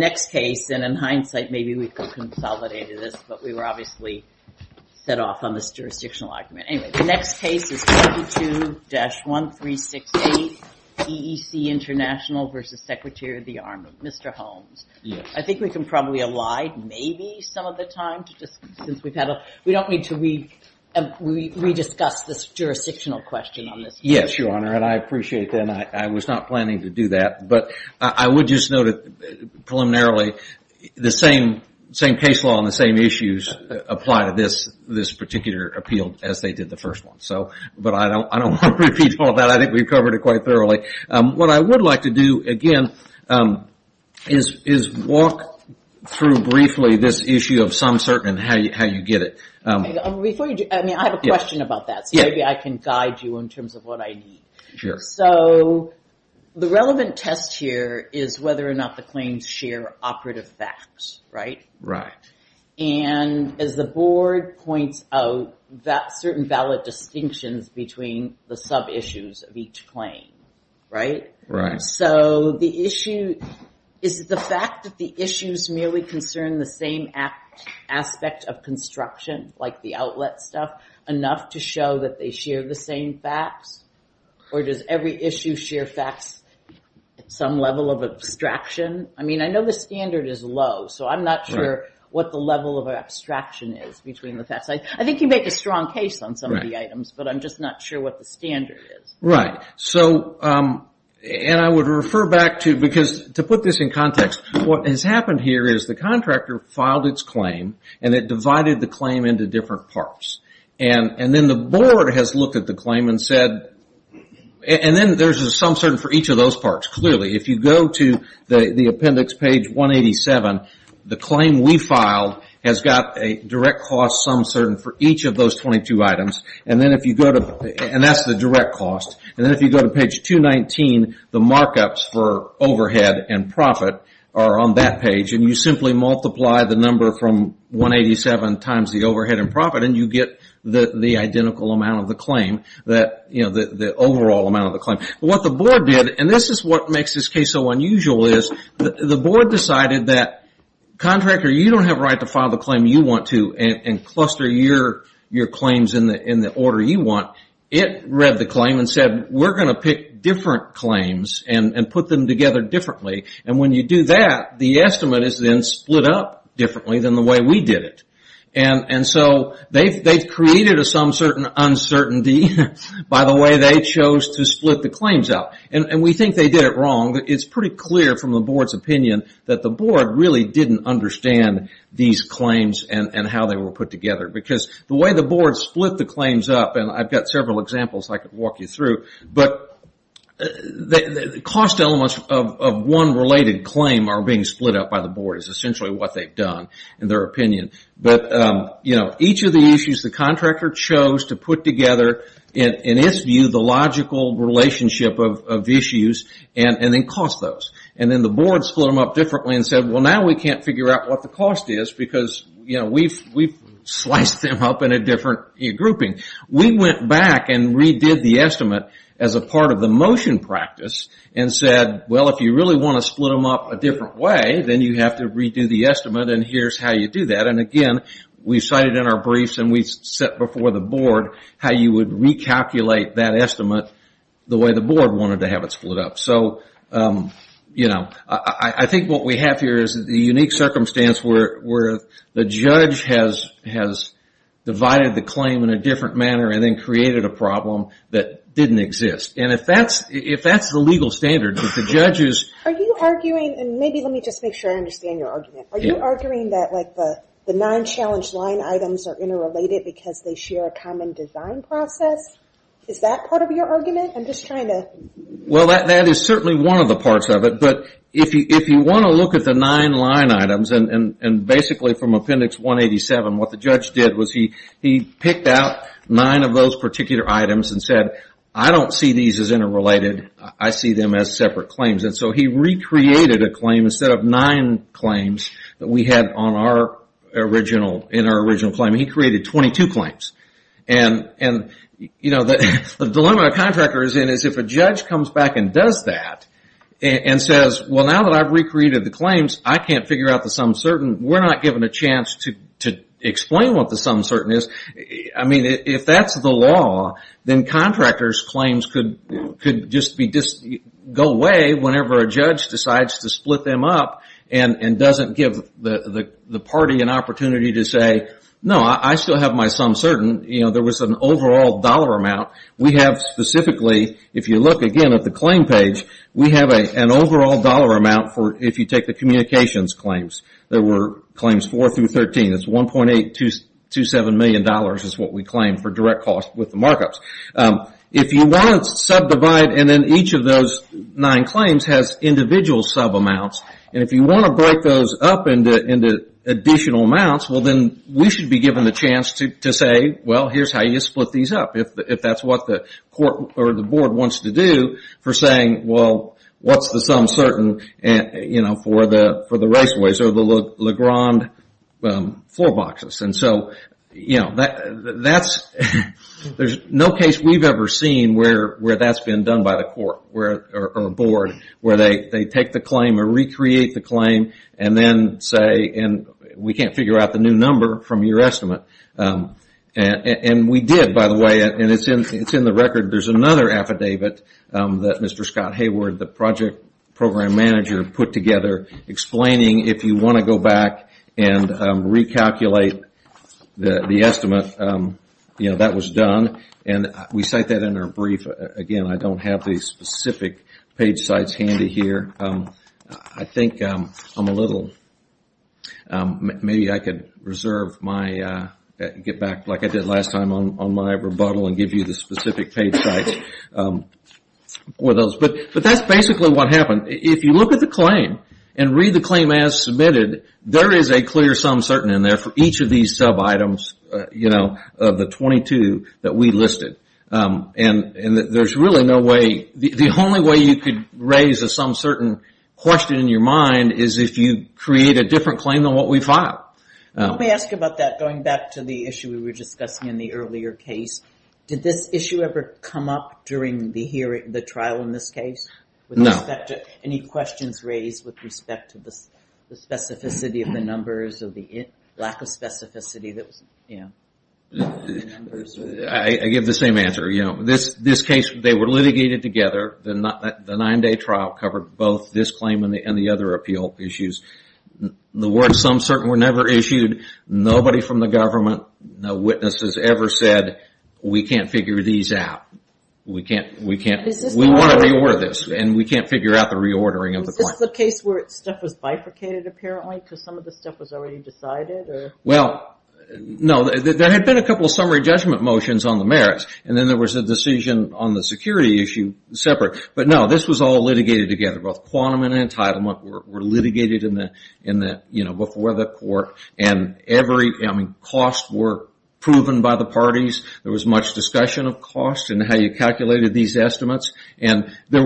In hindsight, maybe we could have consolidated this, but we were obviously set off on this jurisdictional argument. Anyway, the next case is 22-1368, EEC International v. Secretary of the Army. Mr. Holmes, I think we can probably allied maybe some of the time, since we've had a... We don't need to re-discuss this jurisdictional question on this case. Yes, Your Honor, and I appreciate that. I was not planning to do that, but I would just put it preliminarily, the same case law and the same issues apply to this particular appeal as they did the first one. But I don't want to repeat all that. I think we've covered it quite thoroughly. What I would like to do, again, is walk through briefly this issue of some certain and how you get it. I have a question about that, so maybe I can attest here, is whether or not the claims share operative facts. As the board points out, that certain valid distinctions between the sub-issues of each claim. Is the fact that the issues merely concern the same aspect of construction, like the outlet stuff, enough to show that they share the same facts? Or does every issue share facts at some level of abstraction? I mean, I know the standard is low, so I'm not sure what the level of abstraction is between the facts. I think you make a strong case on some of the items, but I'm just not sure what the standard is. Right. I would refer back to, because to put this in context, what has happened here is the contractor filed its claim and it divided the claim into different parts. Then the board has looked at the claim and said, and then there's a sum certain for each of those parts, clearly. If you go to the appendix page 187, the claim we filed has got a direct cost sum certain for each of those 22 items, and that's the direct cost. Then if you go to page 219, the markups for overhead and profit, and you get the identical amount of the claim, the overall amount of the claim. What the board did, and this is what makes this case so unusual, is the board decided that contractor, you don't have a right to file the claim you want to and cluster your claims in the order you want. It read the claim and said, we're going to pick different claims and put them together differently. When you do that, the estimate is then split up differently than the way we did it. They've created a sum certain uncertainty by the way they chose to split the claims up. We think they did it wrong. It's pretty clear from the board's opinion that the board really didn't understand these claims and how they were put together. The way the board split the claims up, and I've got several examples I could walk you through, but the cost elements of one related claim are being split up by what they've done in their opinion. Each of the issues the contractor chose to put together, in its view, the logical relationship of issues, and then cost those. Then the board split them up differently and said, now we can't figure out what the cost is because we've sliced them up in a different grouping. We went back and redid the estimate as a part of the motion practice and said, if you really want to split them up a different way, then you have to redo the estimate and here's how you do that. Again, we cited in our briefs and we set before the board how you would recalculate that estimate the way the board wanted to have it split up. I think what we have here is the unique circumstance where the judge has divided the claim in a different manner and then created a problem that didn't exist. If that's the legal standard, if the judge is... Maybe let me just make sure I understand your argument. Are you arguing that the nine challenge line items are interrelated because they share a common design process? Is that part of your argument? I'm just trying to... Well that is certainly one of the parts of it, but if you want to look at the nine line items and basically from Appendix 187, what the judge did was he picked out nine of those particular items and said, I don't see these as interrelated. I see them as separate claims. He recreated a claim instead of nine claims that we had in our original claim. He created 22 claims. The dilemma a contractor is in is if a judge comes back and does that and says, well now that I've recreated the claims, I can't figure out the some certain. We're not given a chance to explain what the some certain is. If that's the law, then contractors' claims could go away whenever a judge decides to split them up and doesn't give the party an opportunity to say, no, I still have my some certain. There was an overall dollar amount. We have specifically, if you look again at the claim page, we have an overall dollar amount for if you take the communications claims. There were claims four through 13. It's $1.827 million is what we claim for direct cost with the markups. If you want to subdivide and then each of those nine claims has individual sub amounts and if you want to break those up into additional amounts, then we should be given the chance to say, well, here's how you split these up. If that's what the board wants to do for saying, well, what's the some certain for the raceways or the LeGrand floor boxes. There's no case we've ever seen where that's been done by the court or board where they take the claim or recreate the claim and then say, we can't figure out the new number from your estimate. We did, by the way, have a program manager put together explaining if you want to go back and recalculate the estimate, that was done. We cite that in our brief. Again, I don't have the specific page sites handy here. I think I'm a little, maybe I could reserve my, get back like I did last time on my rebuttal and give you the specific page sites. That's basically what happened. If you look at the claim and read the claim as submitted, there is a clear some certain in there for each of these sub items of the 22 that we listed. There's really no way, the only way you could raise a some certain question in your mind is if you create a different claim than what we filed. Let me ask you about that going back to the issue we were discussing in the earlier case. Did this issue ever come up during the hearing, the trial in this case? No. Any questions raised with respect to the specificity of the numbers or the lack of specificity that was, you know, in the numbers? I give the same answer. This case, they were litigated together. The nine day trial covered both this claim and the other appeal issues. The word some certain were never issued. Nobody from the government, no witnesses ever said, we can't figure these out. We can't, we can't, we want to reorder this and we can't figure out the reordering of the claim. Is this the case where stuff was bifurcated apparently because some of the stuff was already decided or? Well, no. There had been a couple of summary judgment motions on the merits and then there was a decision on the security issue separate. But no, this was all litigated together. Both costs were proven by the parties. There was much discussion of cost and how you calculated these estimates. And there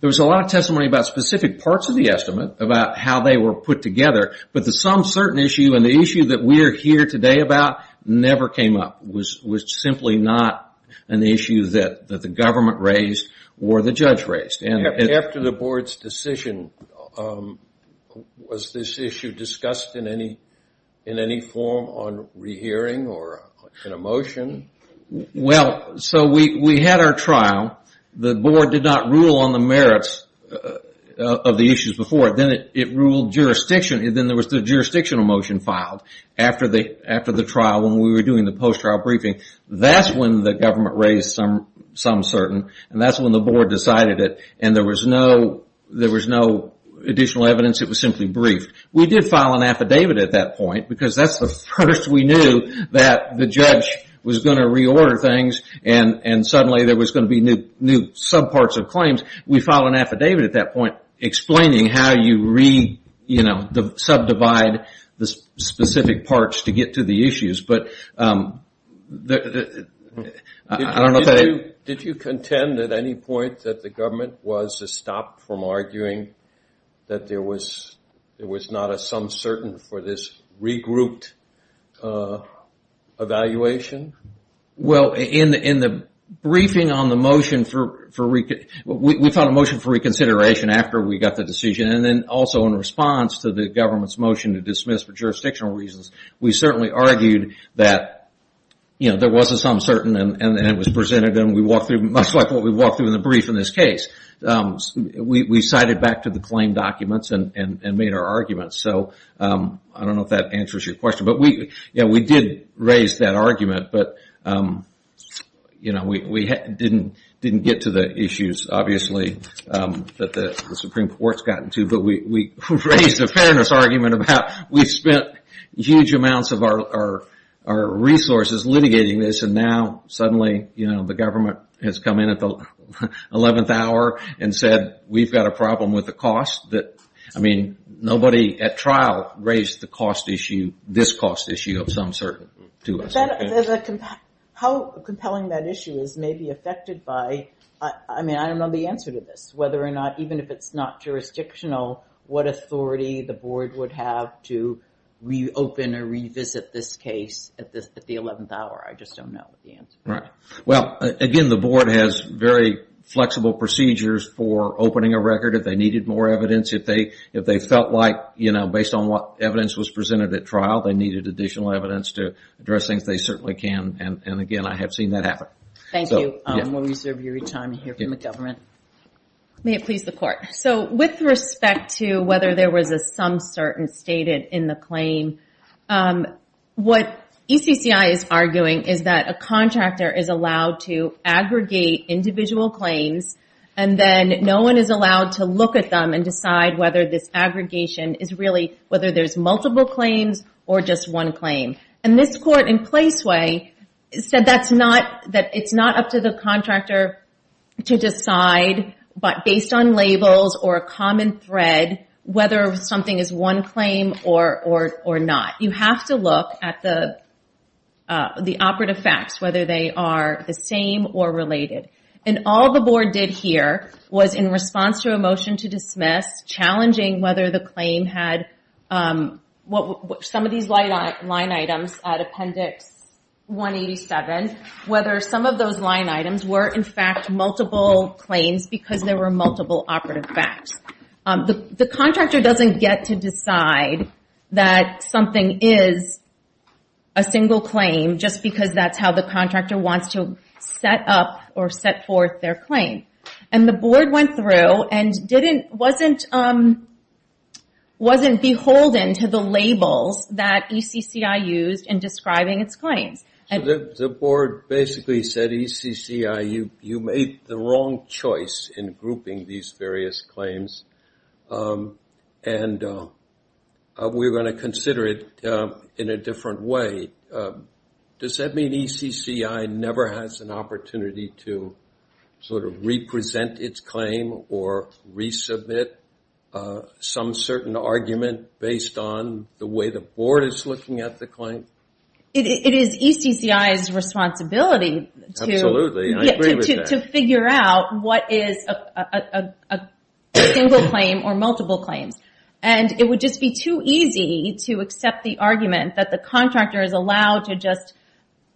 was a lot of testimony about specific parts of the estimate, about how they were put together. But the some certain issue and the issue that we are here today about never came up. It was simply not an issue that the government raised or the judge raised. After the board's decision, was this issue discussed in any form on rehearing or a motion? Well, so we had our trial. The board did not rule on the merits of the issues before. Then it ruled jurisdiction. Then there was the jurisdictional motion filed after the trial when we were doing the post-trial briefing. That's when the government raised some certain issues. And that's when the board decided it. And there was no additional evidence. It was simply briefed. We did file an affidavit at that point because that's the first we knew that the judge was going to reorder things and suddenly there was going to be new sub-parts of claims. We filed an affidavit at that point explaining how you re-subdivide the specific parts to get to the issues. Did you contend at any point that the government was to stop from arguing that there was not a some certain for this regrouped evaluation? Well, in the briefing on the motion, we filed a motion for reconsideration after we got the decision. And then also in response to the government's motion to dismiss for jurisdictional reasons, we certainly argued that there was a some certain and it was presented and we walked through much like what we walked through in the brief in this case. We cited back to the claim documents and made our arguments. I don't know if that answers your question. We did raise that argument, but we didn't get to the issues obviously that the Supreme Court has gotten to, but we raised a fairness argument about how we spent huge amounts of our resources litigating this and now suddenly the government has come in at the eleventh hour and said we've got a problem with the cost. Nobody at trial raised the cost issue, this cost issue of some certain to us. How compelling that issue is may be affected by, I don't know the answer to this, whether or not, even if it's not jurisdictional, what authority the board would have to reopen or revisit this case at the eleventh hour. I just don't know the answer. Well, again, the board has very flexible procedures for opening a record if they needed more evidence. If they felt like, you know, based on what evidence was presented at trial, they needed additional evidence to address things, they certainly can. And again, I have seen that happen. May it please the court. So, with respect to whether there was a some certain stated in the claim, what ECCI is arguing is that a contractor is allowed to aggregate individual claims and then no one is allowed to look at them and decide whether this aggregation is really whether there's multiple claims or just one claim. And this court in Placeway said that it's not up to the contractor to decide, but based on labels or a common thread, whether something is one claim or not. You have to look at the operative facts, whether they are the same or related. And all the board did here was in response to a motion to dismiss, challenging whether the claim had some of these line items at Appendix 187, whether some of those line items were in fact multiple claims because there were multiple operative facts. The contractor doesn't get to decide that something is a single claim just because that's how the contractor wants to set up or set forth their claim. And the board wasn't beholden to the labels that ECCI used in describing its claims. So, the board basically said ECCI, you made the wrong choice in grouping these various claims. And we're going to consider it in a different way. Does that mean ECCI never has an opportunity to sort of represent its claim or resubmit some certain argument based on the way the board is looking at the claim? It is ECCI's responsibility to figure out what is a single claim or multiple claims. And it would just be too easy to accept the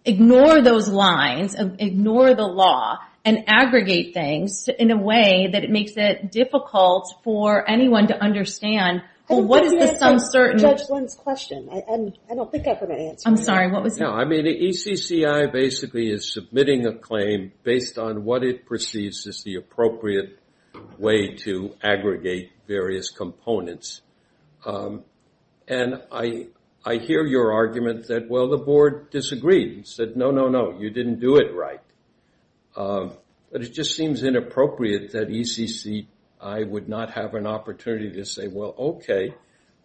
ignore the law and aggregate things in a way that it makes it difficult for anyone to understand. What is the some certain? Judge Lund's question. I don't think I've heard an answer to that. I'm sorry, what was it? No, I mean, ECCI basically is submitting a claim based on what it perceives as the appropriate way to aggregate various components. And I hear your argument that, well, the board disagreed and said, no, no, no, you didn't do it right. But it just seems inappropriate that ECCI would not have an opportunity to say, well, okay,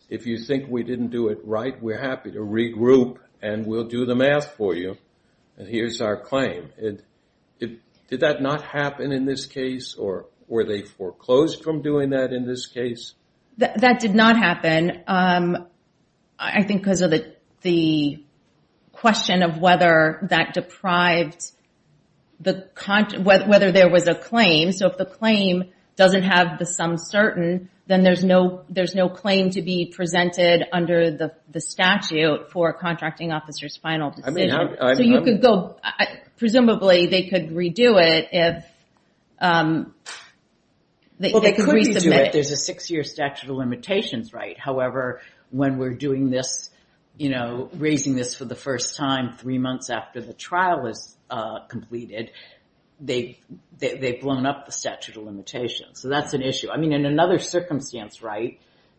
if you think we didn't do it right, we're happy to regroup and we'll do the math for you. And here's our claim. Did that not happen in this case? Or were they foreclosed from doing that in this case? That did not happen. I think because of the question of whether that deprived the, whether there was a claim. So if the claim doesn't have the some certain, then there's no claim to be presented under the statute for a contracting officer's final decision. So you could go, presumably they could redo it if they could resubmit it. There's a six-year statute of limitations, right? However, when we're doing this, raising this for the first time three months after the trial is completed, they've blown up the statute of limitations. So that's an issue. I mean, in another circumstance,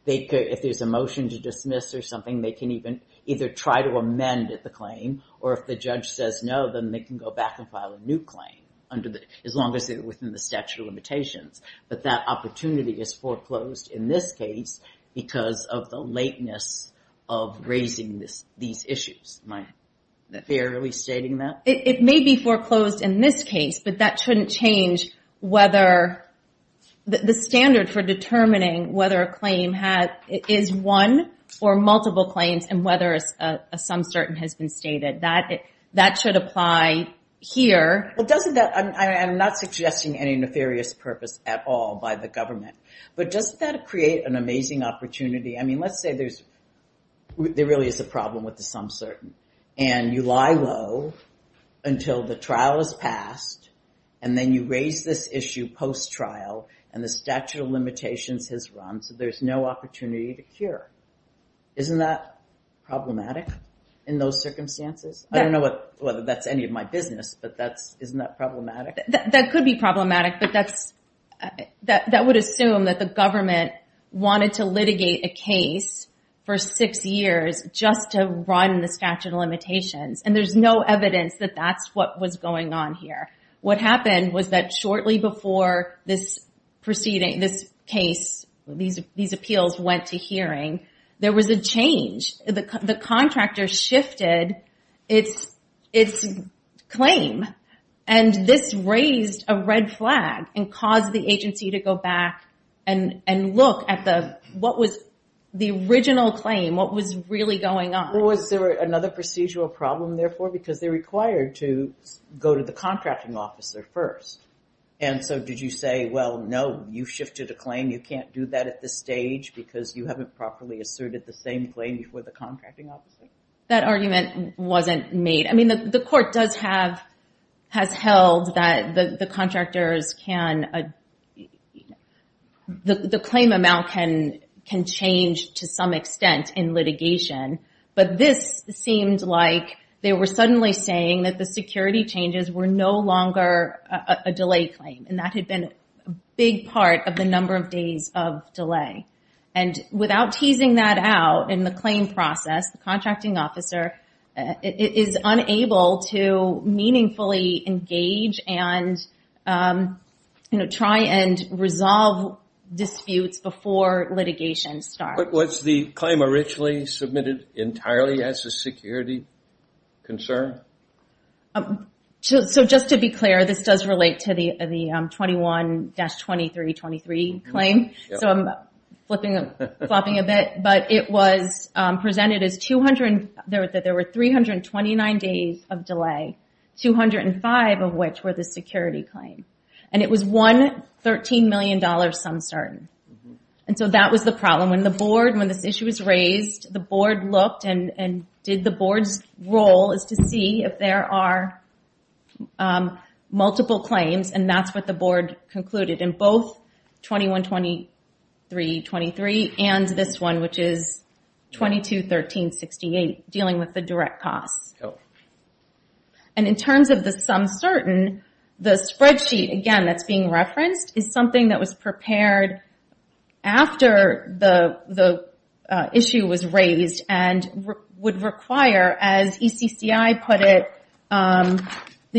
if there's a motion to dismiss or something, they can even either try to amend the claim, or if the judge says no, then they can go back and file a new claim as long as they're within the statute of limitations. But that opportunity is foreclosed in this case, because of the lateness of raising these issues. Am I fairly stating that? It may be foreclosed in this case, but that shouldn't change whether the standard for determining whether a claim is one or multiple claims, and whether a some certain has been stated. That should apply here. Well, I'm not suggesting any nefarious purpose at all by the government, but does that create an amazing opportunity? I mean, let's say there really is a problem with the some certain, and you lie low until the trial is passed, and then you raise this issue post-trial, and the statute of limitations has run, so there's no opportunity to cure. Isn't that problematic in those circumstances? I don't know whether that's any of my business, but isn't that problematic? That could be problematic, but that would assume that the government wanted to litigate a case for six years just to run the statute of limitations, and there's no evidence that that's what was going on here. What happened was that shortly before this proceeding, this case, these appeals went to hearing, there was a change. The contractor shifted its claim, and this raised a red flag and caused the agency to go back and look at the original claim, what was really going on. Was there another procedural problem, therefore, because they're required to go to the contracting officer first, and so did you say, well, no, you shifted a claim, you can't do that at this stage because you haven't properly asserted the same claim before the contracting officer? That argument wasn't made. I mean, the court has held that the claim amount can change to some extent in litigation, but this seemed like they were suddenly saying that the security changes were no longer a delay claim, and that in the claim process, the contracting officer is unable to meaningfully engage and try and resolve disputes before litigation starts. Was the claim originally submitted entirely as a security concern? Just to be clear, this does relate to the 21-2323 claim, so I'm flopping a bit, but it was presented as there were 329 days of delay, 205 of which were the security claim, and it was $113 million some certain, and so that was the problem. When the board, when this issue was raised, the board looked and did the board's role is to see if there are board concluded in both 21-2323 and this one, which is 22-1368, dealing with the direct costs. In terms of the some certain, the spreadsheet, again, that's being referenced is something that was prepared after the issue was raised and would require, as ECCI put it, that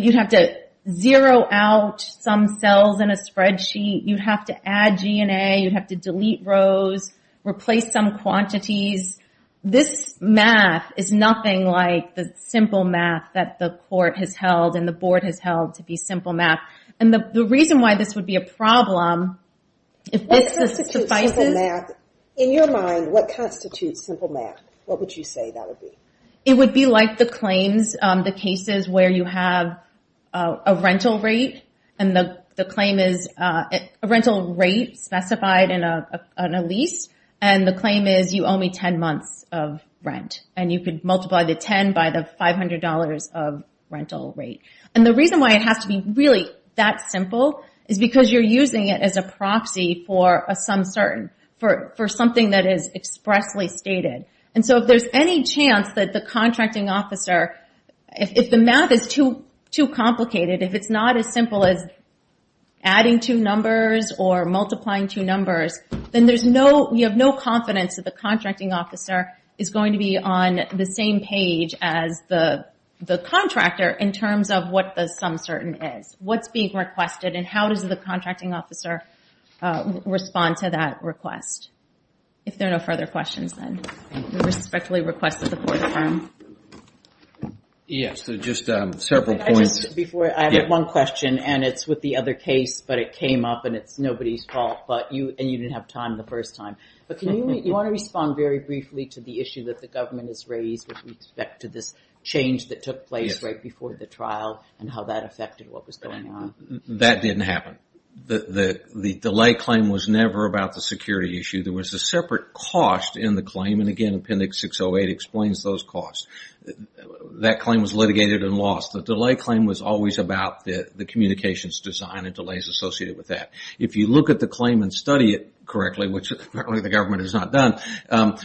you'd have to zero out some cells in a spreadsheet, you'd have to add GNA, you'd have to delete rows, replace some quantities. This math is nothing like the simple math that the court has held and the board has held to be simple math, and the reason why this would be a problem, if this suffices- In your mind, what constitutes simple math? What would you say that would be? It would be like the claims, the cases where you have a rental rate, and the claim is a rental rate specified in a lease, and the claim is you owe me 10 months of rent, and you could multiply the 10 by the $500 of rental rate, and the reason why it has to be really that simple is because you're using it as a proxy for a some certain, for something that is expressly stated, and so if there's any chance that the contracting officer, if the math is too complicated, if it's not as simple as adding two numbers or multiplying two numbers, then you have no confidence that the contracting officer is going to be on the same page as the contractor in terms of what the some certain is, what's being requested, and how does the contracting officer respond to that request of the court firm? Yes, so just several points- Before, I have one question, and it's with the other case, but it came up, and it's nobody's fault, but you, and you didn't have time the first time, but can you, you want to respond very briefly to the issue that the government has raised with respect to this change that took place right before the trial, and how that affected what was going on? That didn't happen. The delay claim was never about the security issue. There was a delay, and the way it explains those costs, that claim was litigated and lost. The delay claim was always about the communications design and delays associated with that. If you look at the claim and study it correctly, which apparently the government has not done,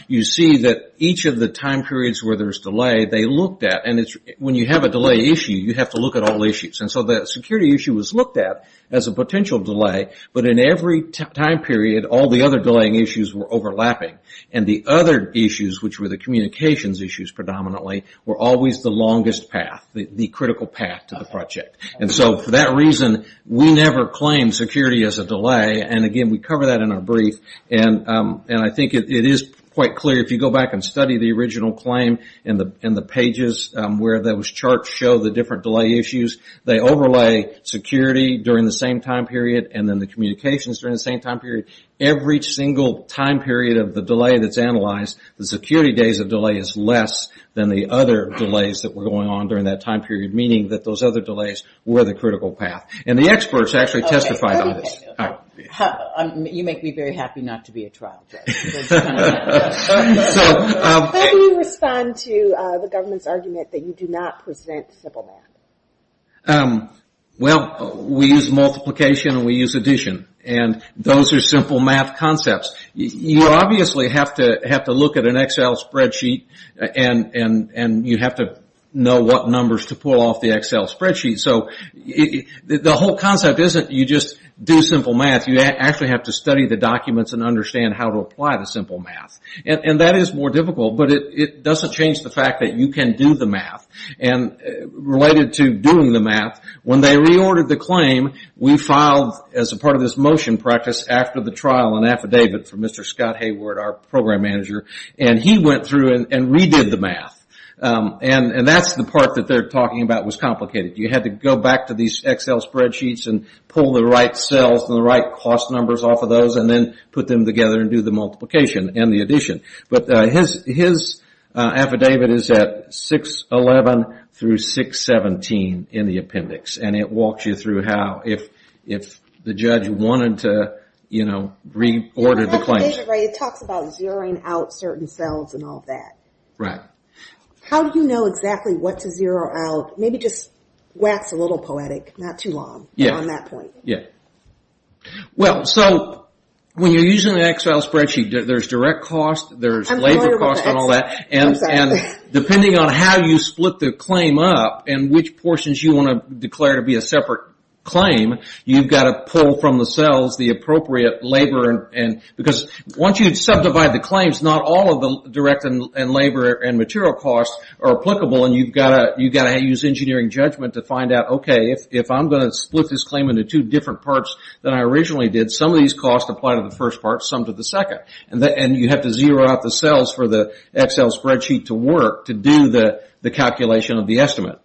you see that each of the time periods where there's delay, they looked at, and it's when you have a delay issue, you have to look at all issues, and so the security issue was looked at as a potential delay, but in every time period, all the other delaying issues were overlapping, and the other issues, which were the communications issues predominantly, were always the longest path, the critical path to the project, and so for that reason, we never claimed security as a delay, and again, we cover that in our brief, and I think it is quite clear if you go back and study the original claim in the pages where those charts show the different delay issues, they overlay security during the same time period, and then communications during the same time period. Every single time period of the delay that's analyzed, the security days of delay is less than the other delays that were going on during that time period, meaning that those other delays were the critical path, and the experts actually testified on this. You make me very happy not to be a trial judge. How do you respond to the government's argument that you do not present simple math? Well, we use multiplication, and we use addition, and those are simple math concepts. You obviously have to look at an Excel spreadsheet, and you have to know what numbers to pull off the Excel spreadsheet, so the whole concept isn't you just do simple math. You actually have to study the documents and understand how to apply the simple math, and that is more difficult, but it doesn't change the fact that you can do the math. Related to doing the math, when they reordered the claim, we filed as a part of this motion practice after the trial an affidavit from Mr. Scott Hayward, our program manager, and he went through and redid the math, and that's the part that they're talking about was complicated. You had to go back to these Excel spreadsheets and pull the right cells and the right cost numbers off of those, and then put them together and do the multiplication and the addition, but his affidavit is at 611 through 617 in the appendix, and it walks you through how, if the judge wanted to reorder the claim. It talks about zeroing out certain cells and all that. How do you know exactly what to zero out? Maybe just wax a little poetic, not too long on that point. When you're using an Excel spreadsheet, there's direct cost, there's labor cost, and depending on how you split the claim up, and which portions you want to declare to be a separate claim, you've got to pull from the cells the appropriate labor, because once you subdivide the claims, not all of the direct and labor and material costs are applicable, and you've got to use engineering judgment to find out, okay, if I'm going to split this claim into two different parts than I originally did, some of these costs apply to the first part, some to the second. You have to zero out the cells for the Excel spreadsheet to work to do the calculation of the estimate.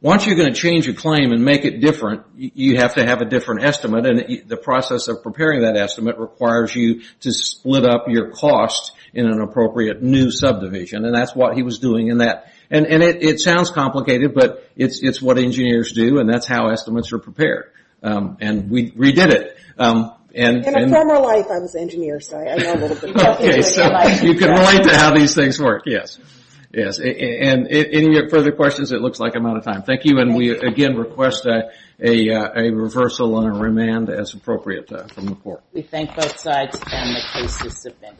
Once you're going to change a claim and make it different, you have to have a different estimate, and the process of preparing that estimate requires you to split up your costs in an appropriate new subdivision, and that's what he was doing in that. It sounds complicated, but it's what engineers do, and that's how estimates are prepared. We redid it. In a former life, I was an engineer, so I know a little bit about engineering. You can relate to how these things work, yes. Any further questions? It looks like I'm out of time. Thank you, and we again request a reversal and a remand as appropriate from the court. We thank both sides, and the case is submitted.